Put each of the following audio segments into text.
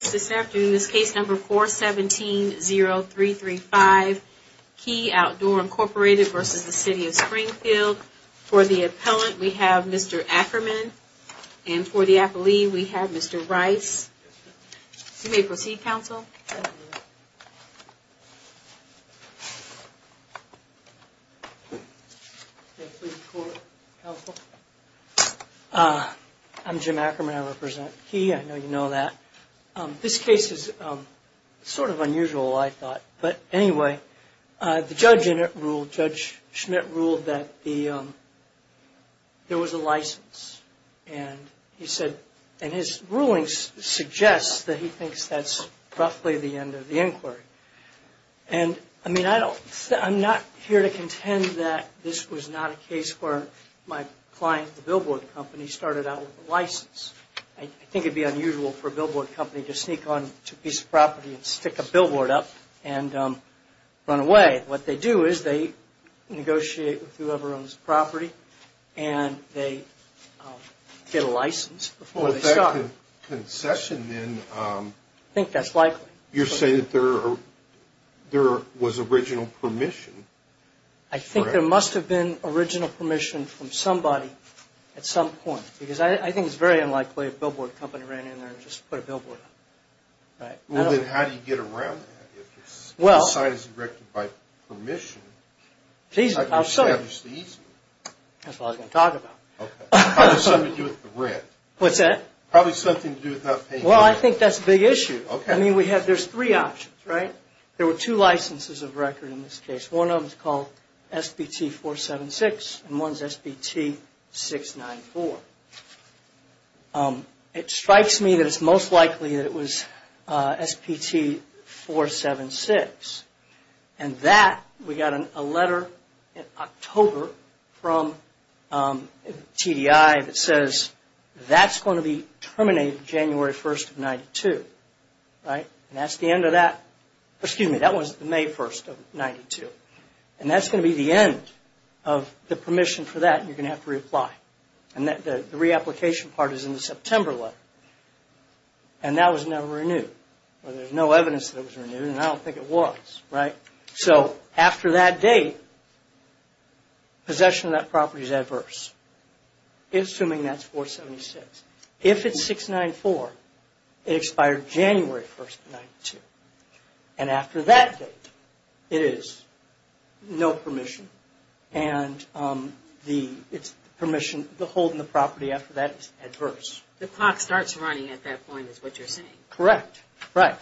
This afternoon is case number 417-0335, Key Outdoor, Inc. v. City of Springfield. For the appellant, we have Mr. Ackerman. And for the appellee, we have Mr. Rice. You may proceed, counsel. I'm Jim Ackerman. I represent Key. I know you know that. This case is sort of unusual, I thought. But anyway, the judge in it ruled, Judge Schmidt ruled that there was a license. And he said, and his ruling suggests that he thinks that's roughly the end of the inquiry. And I mean, I don't, I'm not here to contend that this was not a case where my client, the billboard company, started out with a license. I think it would be unusual for a billboard company to sneak onto a piece of property and stick a billboard up and run away. And what they do is they negotiate with whoever owns the property and they get a license before they start. But that concession, then, I think that's likely. You're saying that there was original permission. I think there must have been original permission from somebody at some point, because I think it's very unlikely a billboard company ran in there and just put a billboard up. Well, then how do you get around that? If the site is erected by permission, how do you establish the easement? That's what I was going to talk about. Probably something to do with the rent. What's that? Probably something to do with not paying the rent. Well, I think that's a big issue. I mean, we have, there's three options, right? There were two licenses of record in this case. One of them's called SBT-476 and one's SBT-694. It strikes me that it's most likely that it was SBT-476. And that, we got a letter in October from TDI that says that's going to be terminated January 1st of 92, right? And that's the end of that, excuse me, that was May 1st of 92. And that's going to be the end of the permission for that and you're going to have to reapply. And the reapplication part is in the September letter. And that was never renewed. Well, there's no evidence that it was renewed and I don't think it was, right? So after that date, possession of that property is adverse, assuming that's 476. If it's 694, it expired January 1st of 92. And after that date, it is no permission. And the permission to hold the property after that is adverse. The clock starts running at that point is what you're saying. Correct. Right.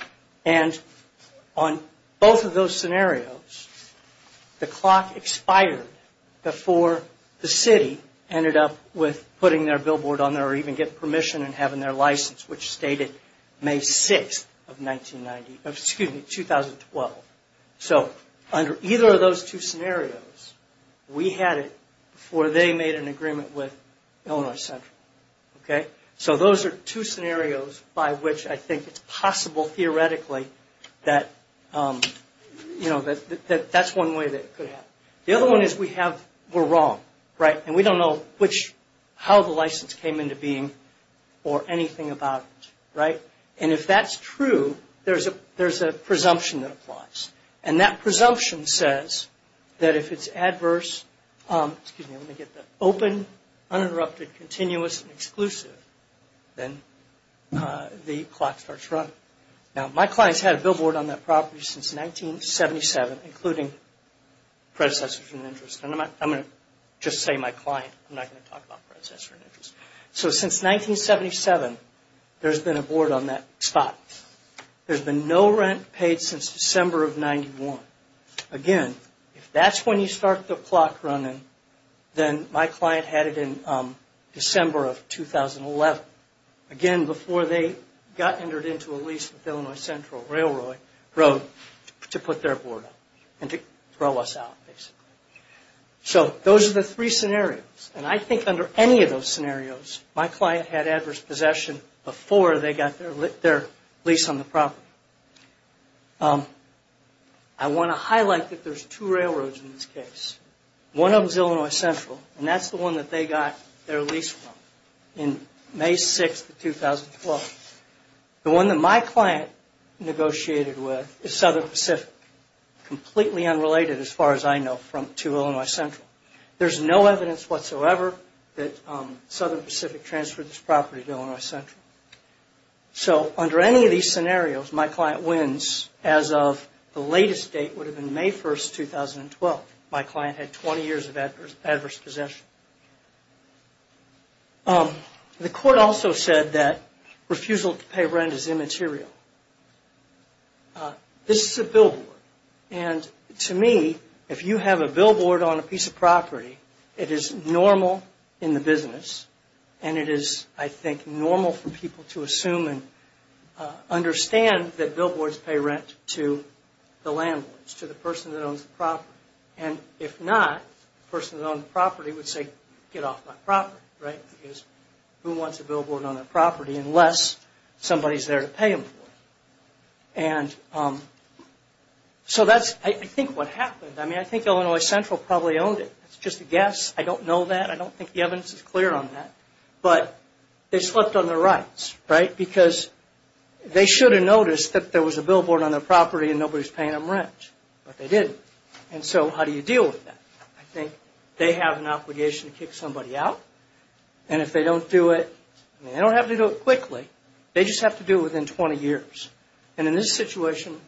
And on both of those scenarios, the clock expired before the city ended up with putting their billboard on there or even getting permission and having their license, which stated May 6th of 1992, excuse me, 2012. So under either of those two scenarios, we had it before they made an agreement with Illinois Central. Okay? So those are two scenarios by which I think it's possible theoretically that, you know, that that's one way that it could happen. The other one is we have, we're wrong, right? And we don't know which, how the license came into being or anything about it, right? And if that's true, there's a presumption that applies. And that presumption says that if it's adverse, excuse me, let me get that, open, uninterrupted, continuous, and exclusive, then the clock starts running. Now, my clients had a billboard on that property since 1977, including predecessors in interest. And I'm going to just say my client. I'm not going to talk about predecessors in interest. So since 1977, there's been a board on that spot. There's been no rent paid since December of 91. Again, if that's when you start the clock running, then my client had it in December of 2011. Again, before they got entered into a lease with Illinois Central Railroad to put their board up and to throw us out basically. So those are the three scenarios. And I think under any of those scenarios, my client had adverse possession before they got their lease on the property. I want to highlight that there's two railroads in this case. One of them is Illinois Central, and that's the one that they got their lease from. In May 6, 2012, the one that my client negotiated with is Southern Pacific, completely unrelated as far as I know to Illinois Central. There's no evidence whatsoever that Southern Pacific transferred this property to Illinois Central. So under any of these scenarios, my client wins as of the latest date would have been May 1, 2012. My client had 20 years of adverse possession. The court also said that refusal to pay rent is immaterial. This is a billboard. And to me, if you have a billboard on a piece of property, it is normal in the business, and it is, I think, normal for people to assume and understand that billboards pay rent to the landlords, to the person that owns the property. And if not, the person that owns the property would say, get off my property, right? Because who wants a billboard on their property unless somebody is there to pay them for it? And so that's, I think, what happened. I mean, I think Illinois Central probably owned it. It's just a guess. I don't know that. I don't think the evidence is clear on that. But they slipped on their rights, right? Because they should have noticed that there was a billboard on their property and nobody is paying them rent. But they didn't. And so how do you deal with that? I think they have an obligation to kick somebody out. And if they don't do it, they don't have to do it quickly. They just have to do it within 20 years. And in this situation,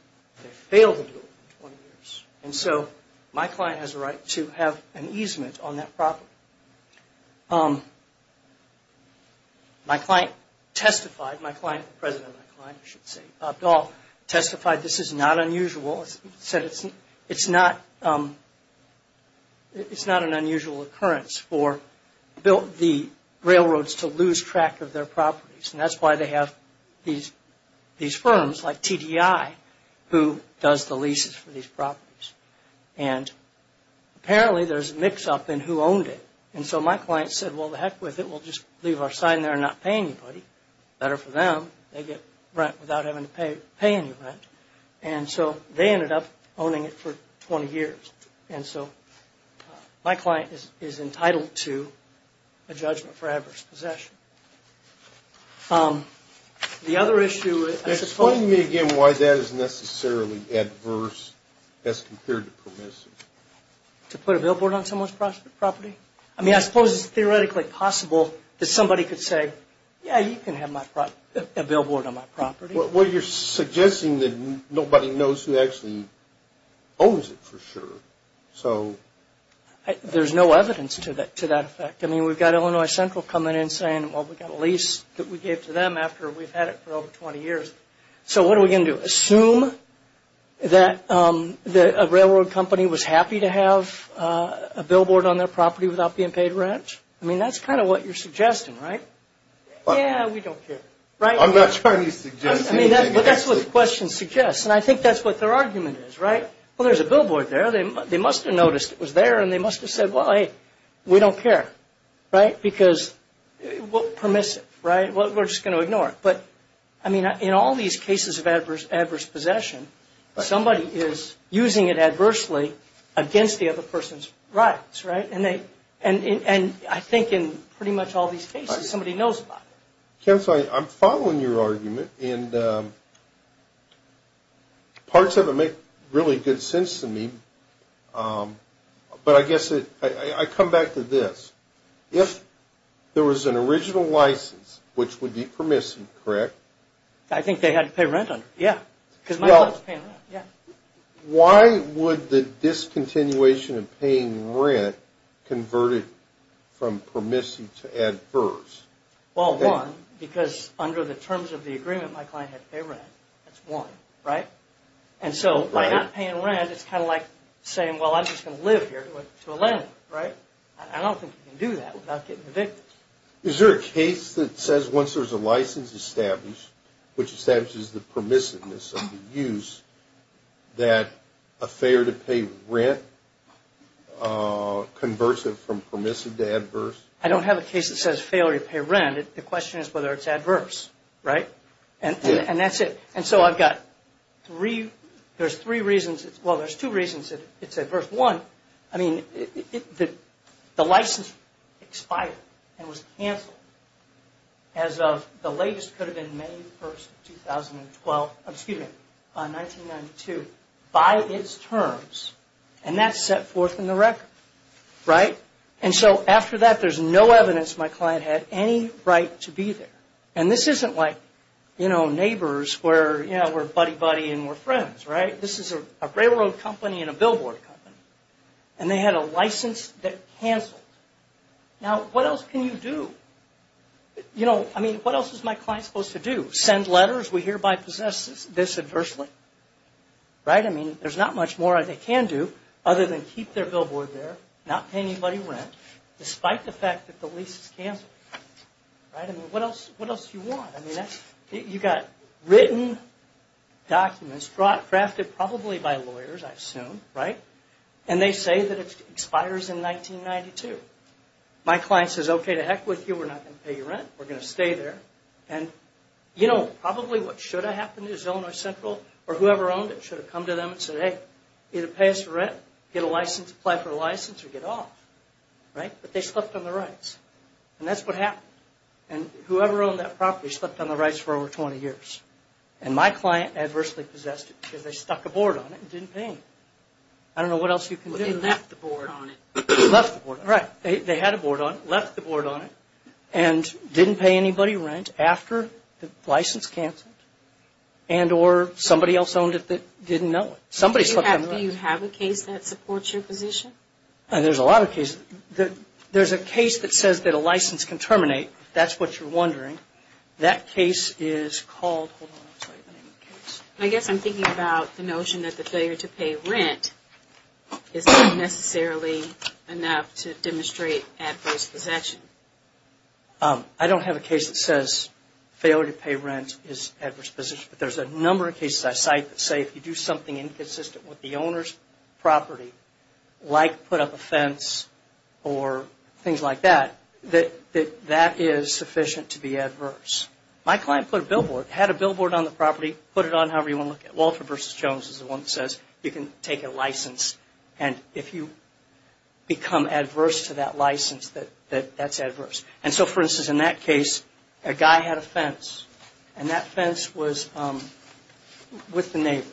they failed to do it within 20 years. And so my client has a right to have an easement on that property. My client testified. My client, the president of my client, I should say, Bob Dahl, testified this is not unusual. He said it's not an unusual occurrence for the railroads to lose track of their properties. And that's why they have these firms like TDI who does the leases for these properties. And apparently there's a mix-up in who owned it. And so my client said, well, to heck with it. We'll just leave our sign there and not pay anybody. Better for them. They get rent without having to pay any rent. And so they ended up owning it for 20 years. And so my client is entitled to a judgment for adverse possession. The other issue, I suppose. Explain to me again why that is necessarily adverse as compared to permissive. To put a billboard on someone's property? I mean, I suppose it's theoretically possible that somebody could say, yeah, you can have a billboard on my property. Well, you're suggesting that nobody knows who actually owns it for sure. So. There's no evidence to that effect. I mean, we've got Illinois Central coming in saying, well, we've got a lease that we gave to them after we've had it for over 20 years. So what are we going to do? Assume that a railroad company was happy to have a billboard on their property without being paid rent? I mean, that's kind of what you're suggesting, right? Yeah, we don't care. I'm not trying to suggest anything. But that's what the question suggests. And I think that's what their argument is, right? Well, there's a billboard there. They must have noticed it was there, and they must have said, well, hey, we don't care, right? Because permissive, right? We're just going to ignore it. But, I mean, in all these cases of adverse possession, somebody is using it adversely against the other person's rights, right? And I think in pretty much all these cases, somebody knows about it. Counsel, I'm following your argument, and parts of it make really good sense to me. But I guess I come back to this. If there was an original license, which would be permissive, correct? I think they had to pay rent on it, yeah. Because my wife is paying rent, yeah. Why would the discontinuation of paying rent convert it from permissive to adverse? Well, one, because under the terms of the agreement, my client had to pay rent. That's one, right? And so by not paying rent, it's kind of like saying, well, I'm just going to live here to a living, right? I don't think you can do that without getting evicted. Is there a case that says once there's a license established, which establishes the permissiveness of the use, that a failure to pay rent converts it from permissive to adverse? I don't have a case that says failure to pay rent. The question is whether it's adverse, right? And that's it. And so I've got three, there's three reasons, well, there's two reasons it's adverse. One, I mean, the license expired and was canceled as of the latest could have been May 1, 2012, excuse me, 1992, by its terms. And that's set forth in the record, right? And so after that, there's no evidence my client had any right to be there. And this isn't like, you know, neighbors where, you know, we're buddy-buddy and we're friends, right? This is a railroad company and a billboard company. And they had a license that canceled. Now, what else can you do? You know, I mean, what else is my client supposed to do? Send letters? We hereby possess this adversely, right? I mean, there's not much more they can do other than keep their billboard there, not pay anybody rent, despite the fact that the lease is canceled. Right? I mean, what else do you want? I mean, you've got written documents drafted probably by lawyers, I assume, right? And they say that it expires in 1992. My client says, okay, to heck with you. We're not going to pay you rent. We're going to stay there. And, you know, probably what should have happened is Illinois Central or whoever owned it should have come to them and said, hey, either pay us rent, get a license, apply for a license, or get off. Right? But they slept on the rights. And that's what happened. And whoever owned that property slept on the rights for over 20 years. And my client adversely possessed it because they stuck a board on it and didn't pay him. I don't know what else you can do. They left the board on it. Left the board. Right. They had a board on it, left the board on it, and didn't pay anybody rent after the license canceled. And or somebody else owned it that didn't know it. Somebody slept on the rights. Do you have a case that supports your position? There's a lot of cases. There's a case that says that a license can terminate, if that's what you're wondering. That case is called – hold on, let's write the name of the case. I guess I'm thinking about the notion that the failure to pay rent is not necessarily enough to demonstrate adverse possession. I don't have a case that says failure to pay rent is adverse possession. But there's a number of cases I cite that say if you do something inconsistent with the owner's property, like put up a fence or things like that, that that is sufficient to be adverse. My client put a billboard, had a billboard on the property, put it on however you want to look at it. Walter v. Jones is the one that says you can take a license, and if you become adverse to that license, that that's adverse. And so, for instance, in that case, a guy had a fence. And that fence was with the neighbor.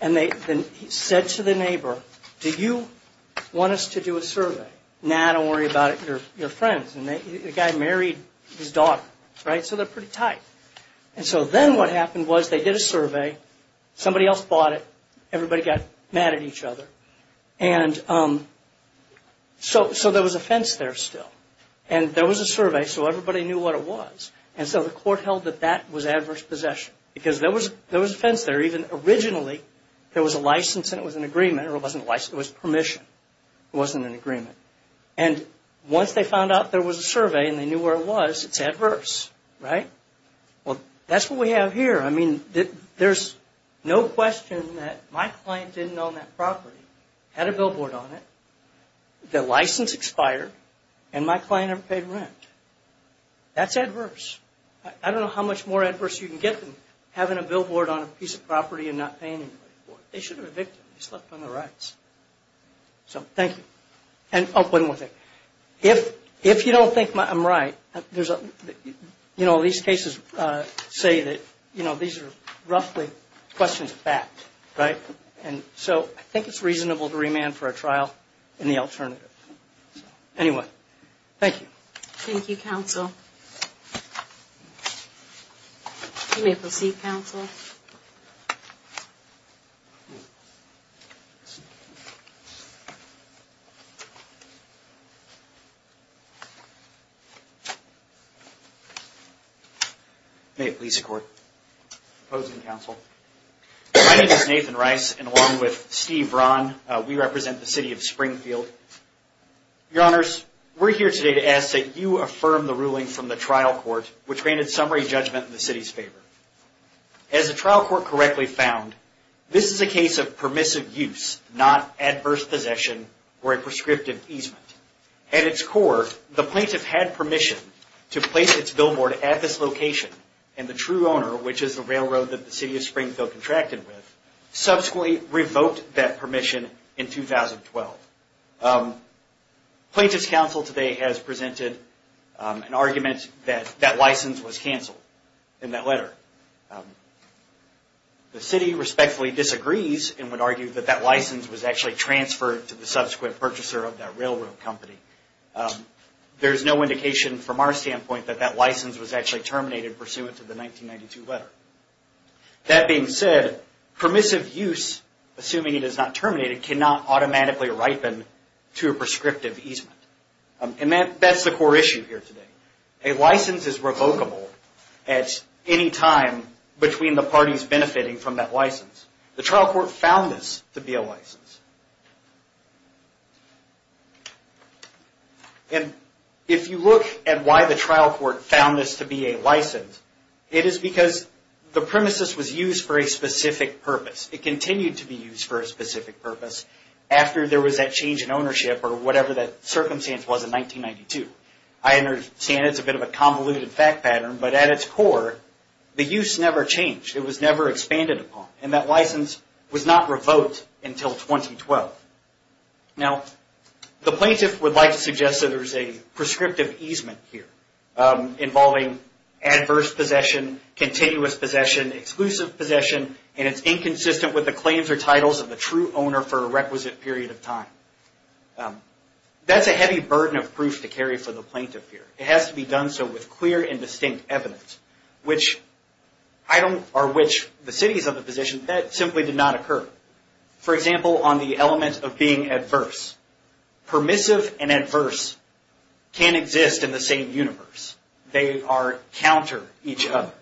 And he said to the neighbor, do you want us to do a survey? Nah, don't worry about it. You're friends. And the guy married his daughter. Right? So they're pretty tight. And so then what happened was they did a survey. Somebody else bought it. Everybody got mad at each other. And so there was a fence there still. And there was a survey, so everybody knew what it was. And so the court held that that was adverse possession. Because there was a fence there. Even originally, there was a license and it was an agreement. Or it wasn't a license, it was permission. It wasn't an agreement. And once they found out there was a survey and they knew where it was, it's adverse. Right? Well, that's what we have here. I mean, there's no question that my client didn't own that property, had a billboard on it, the license expired, and my client never paid rent. That's adverse. I don't know how much more adverse you can get than having a billboard on a piece of property and not paying anybody for it. They should have evicted him. He slept on the rights. So, thank you. Oh, one more thing. If you don't think I'm right, you know, these cases say that, you know, these are roughly questions of fact, right? And so I think it's reasonable to remand for a trial in the alternative. Anyway, thank you. Thank you, counsel. You may proceed, counsel. Thank you. May it please the Court. Opposing counsel. My name is Nathan Rice, and along with Steve Braun, we represent the city of Springfield. Your Honors, we're here today to ask that you affirm the ruling from the trial court which granted summary judgment in the city's favor. As the trial court correctly found, this is a case of permissive use, not adverse possession or a prescriptive easement. At its core, the plaintiff had permission to place its billboard at this location, and the true owner, which is the railroad that the city of Springfield contracted with, subsequently revoked that permission in 2012. Plaintiff's counsel today has presented an argument that that license was canceled in that letter. The city respectfully disagrees and would argue that that license was actually transferred to the subsequent purchaser of that railroad company. There is no indication from our standpoint that that license was actually terminated pursuant to the 1992 letter. That being said, permissive use, assuming it is not terminated, cannot automatically ripen to a prescriptive easement. That's the core issue here today. A license is revocable at any time between the parties benefiting from that license. The trial court found this to be a license. If you look at why the trial court found this to be a license, it is because the premises was used for a specific purpose. It continued to be used for a specific purpose after there was that change in ownership or whatever that circumstance was in 1992. I understand it's a bit of a convoluted fact pattern, but at its core, the use never changed. It was never expanded upon, and that license was not revoked until 2012. Now, the plaintiff would like to suggest that there is a prescriptive easement here involving adverse possession, continuous possession, exclusive possession, and it's inconsistent with the claims or titles of the true owner for a requisite period of time. That's a heavy burden of proof to carry for the plaintiff here. It has to be done so with clear and distinct evidence, which the cities of the position, that simply did not occur. For example, on the element of being adverse. Permissive and adverse can't exist in the same universe. They are counter each other.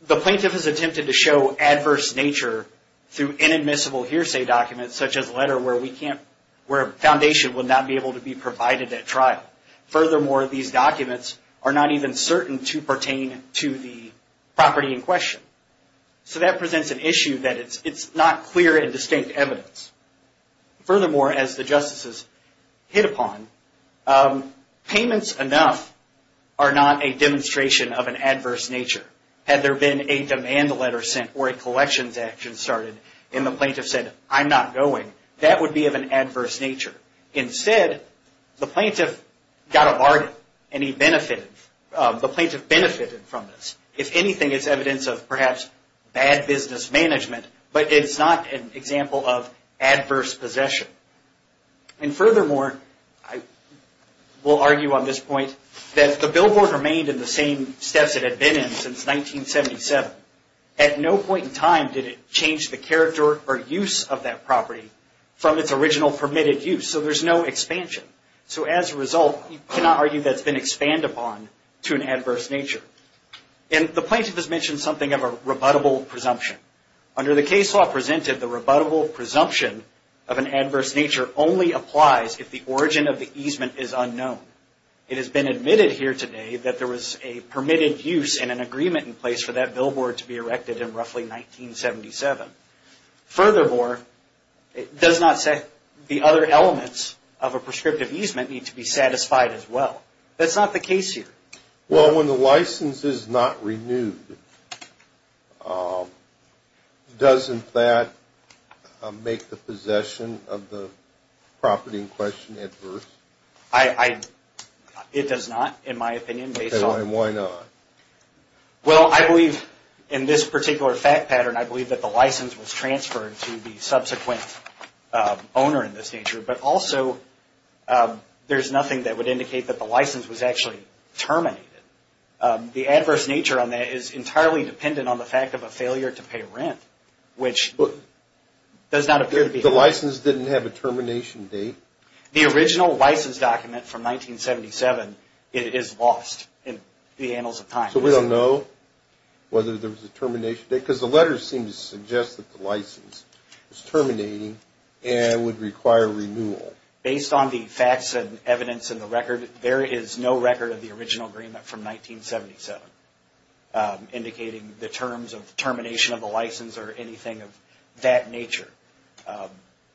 The plaintiff has attempted to show adverse nature through inadmissible hearsay documents such as a letter where a foundation would not be able to be provided at trial. Furthermore, these documents are not even certain to pertain to the property in question. So that presents an issue that it's not clear and distinct evidence. Furthermore, as the justices hit upon, payments enough are not a demonstration of an adverse nature. Had there been a demand letter sent or a collections action started and the plaintiff said, I'm not going, that would be of an adverse nature. Instead, the plaintiff got a bargain and he benefited. The plaintiff benefited from this. If anything, it's evidence of perhaps bad business management, but it's not an example of adverse possession. And furthermore, I will argue on this point, that the billboard remained in the same steps it had been in since 1977. At no point in time did it change the character or use of that property from its original permitted use. So there's no expansion. So as a result, you cannot argue that it's been expanded upon to an adverse nature. And the plaintiff has mentioned something of a rebuttable presumption. Under the case law presented, the rebuttable presumption of an adverse nature only applies if the origin of the easement is unknown. It has been admitted here today that there was a permitted use and an agreement in place for that billboard to be erected in roughly 1977. Furthermore, it does not say the other elements of a prescriptive easement need to be satisfied as well. That's not the case here. Well, when the license is not renewed, doesn't that make the possession of the property in question adverse? It does not, in my opinion. And why not? Well, I believe in this particular fact pattern, I believe that the license was transferred to the subsequent owner in this nature. But also, there's nothing that would indicate that the license was actually terminated. The adverse nature on that is entirely dependent on the fact of a failure to pay rent, which does not appear to be. The license didn't have a termination date. The original license document from 1977 is lost in the annals of time. So we don't know whether there was a termination date, because the letters seem to suggest that the license was terminating and would require renewal. Based on the facts and evidence in the record, there is no record of the original agreement from 1977 indicating the terms of termination of the license or anything of that nature.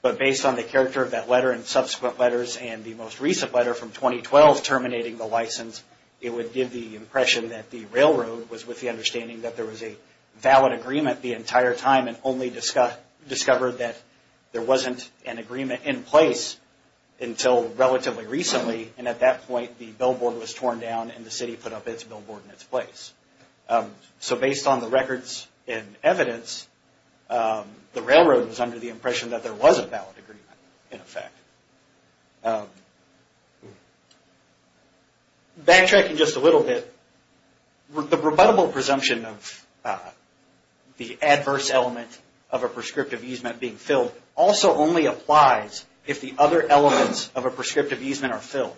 But based on the character of that letter and subsequent letters and the most recent letter from 2012 terminating the license, it would give the impression that the railroad was with the understanding that there was a valid agreement the entire time and only discovered that there wasn't an agreement in place until relatively recently. And at that point, the billboard was torn down and the city put up its billboard in its place. So based on the records and evidence, the railroad was under the impression that there was a valid agreement in effect. Backtracking just a little bit, the rebuttable presumption of the adverse element of a prescriptive easement being filled also only applies if the other elements of a prescriptive easement are filled.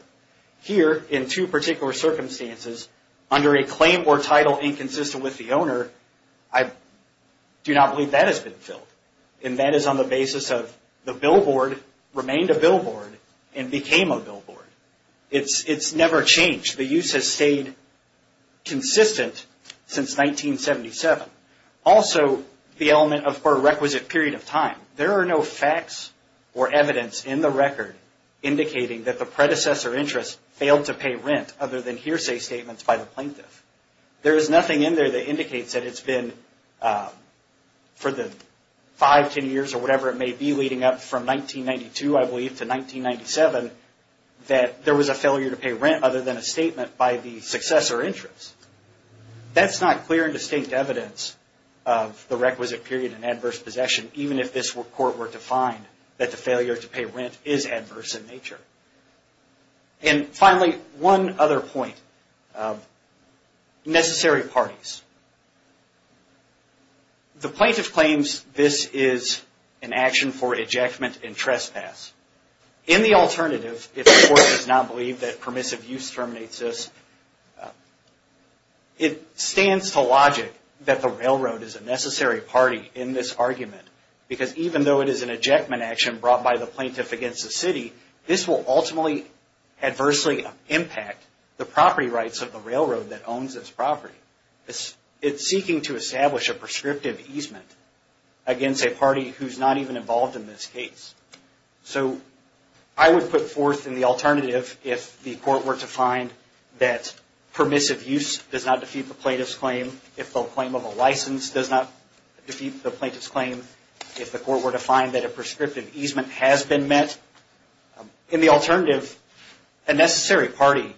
Here, in two particular circumstances, under a claim or title inconsistent with the owner, I do not believe that has been filled. And that is on the basis of the billboard remained a billboard and became a billboard. It's never changed. The use has stayed consistent since 1977. Also, the element of a requisite period of time. There are no facts or evidence in the record indicating that the predecessor interest failed to pay rent other than hearsay statements by the plaintiff. There is nothing in there that indicates that it's been for the 5, 10 years or whatever it may be leading up from 1992, I believe, to 1997, that there was a failure to pay rent other than a statement by the successor interest. That's not clear and distinct evidence of the requisite period and adverse possession even if this court were to find that the failure to pay rent is adverse in nature. And finally, one other point. Necessary parties. The plaintiff claims this is an action for ejectment and trespass. In the alternative, if the court does not believe that permissive use terminates this, it stands to logic that the railroad is a necessary party in this argument because even though it is an ejectment action brought by the plaintiff against the city, this will ultimately adversely impact the property rights of the railroad that owns this property. It's seeking to establish a prescriptive easement against a party who's not even involved in this case. So I would put forth in the alternative if the court were to find that permissive use does not defeat the plaintiff's claim, if the claim of a license does not defeat the plaintiff's claim, if the court were to find that a prescriptive easement has been met. In the alternative, a necessary party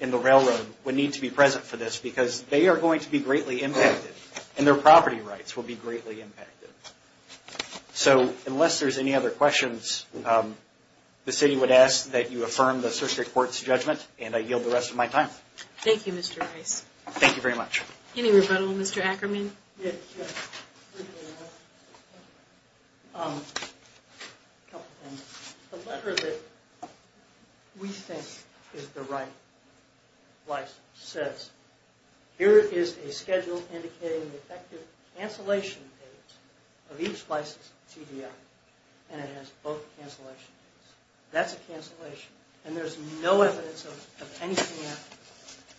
in the railroad would need to be present for this because they are going to be greatly impacted and their property rights will be greatly impacted. So unless there's any other questions, the city would ask that you affirm the surrogate court's judgment and I yield the rest of my time. Thank you, Mr. Rice. Thank you very much. Any rebuttal, Mr. Ackerman? The letter that we think is the right license says, here is a schedule indicating the effective cancellation date of each license TDI, and it has both cancellation dates. That's a cancellation and there's no evidence of anything after that.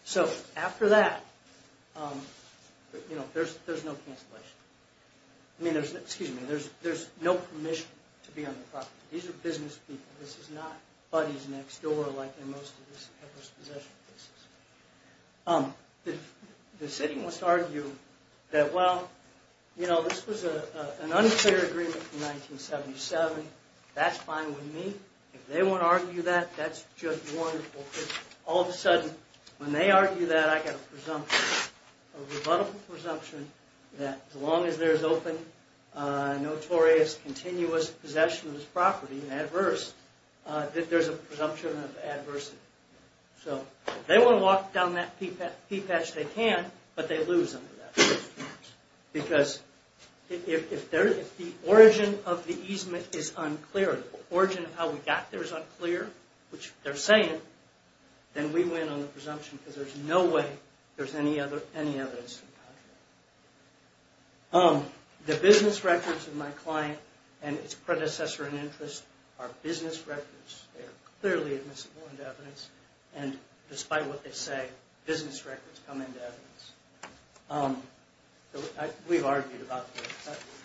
So after that, there's no permission to be on the property. These are business people. This is not buddies next door like in most of this ever-possession cases. The city must argue that, well, this was an unfair agreement in 1977. That's fine with me. If they want to argue that, that's just wonderful. All of a sudden, when they argue that, I get a presumption, a rebuttable presumption, that as long as there's open, notorious, continuous possession of this property, and adverse, that there's a presumption of adversity. So if they want to walk down that peat patch, they can, but they lose under that presumption. Because if the origin of the easement is unclear, or the origin of how we got there is unclear, which they're saying, then we win on the presumption because there's no way there's any evidence to the contrary. The business records of my client and its predecessor in interest are business records. They are clearly admissible into evidence, and despite what they say, business records come into evidence. We've argued about this,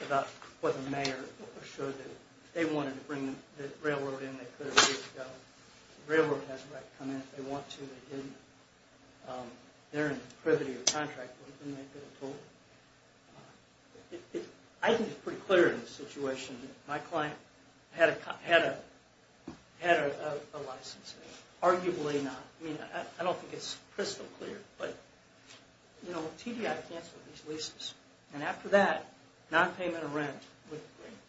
about what the mayor assured them. If they wanted to bring the railroad in, they could have agreed to go. The railroad has the right to come in. If they want to, they didn't. They're in the privity of contract. We can make it a total. I think it's pretty clear in this situation. My client had a license. Arguably not. I don't think it's crystal clear, but TDI canceled these leases, and after that, nonpayment of rent with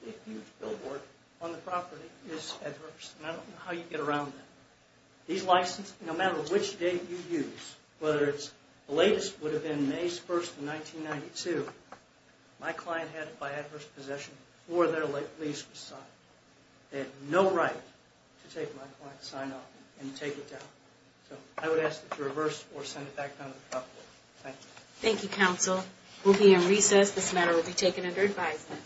a huge billboard on the property is adverse. I don't know how you get around that. These licenses, no matter which date you use, whether it's the latest would have been May 1, 1992, my client had it by adverse possession before their lease was signed. They have no right to take my client's sign off and take it down. So I would ask that you reverse or send it back down to the property. Thank you. Thank you, counsel. We'll be in recess. This matter will be taken under advisement.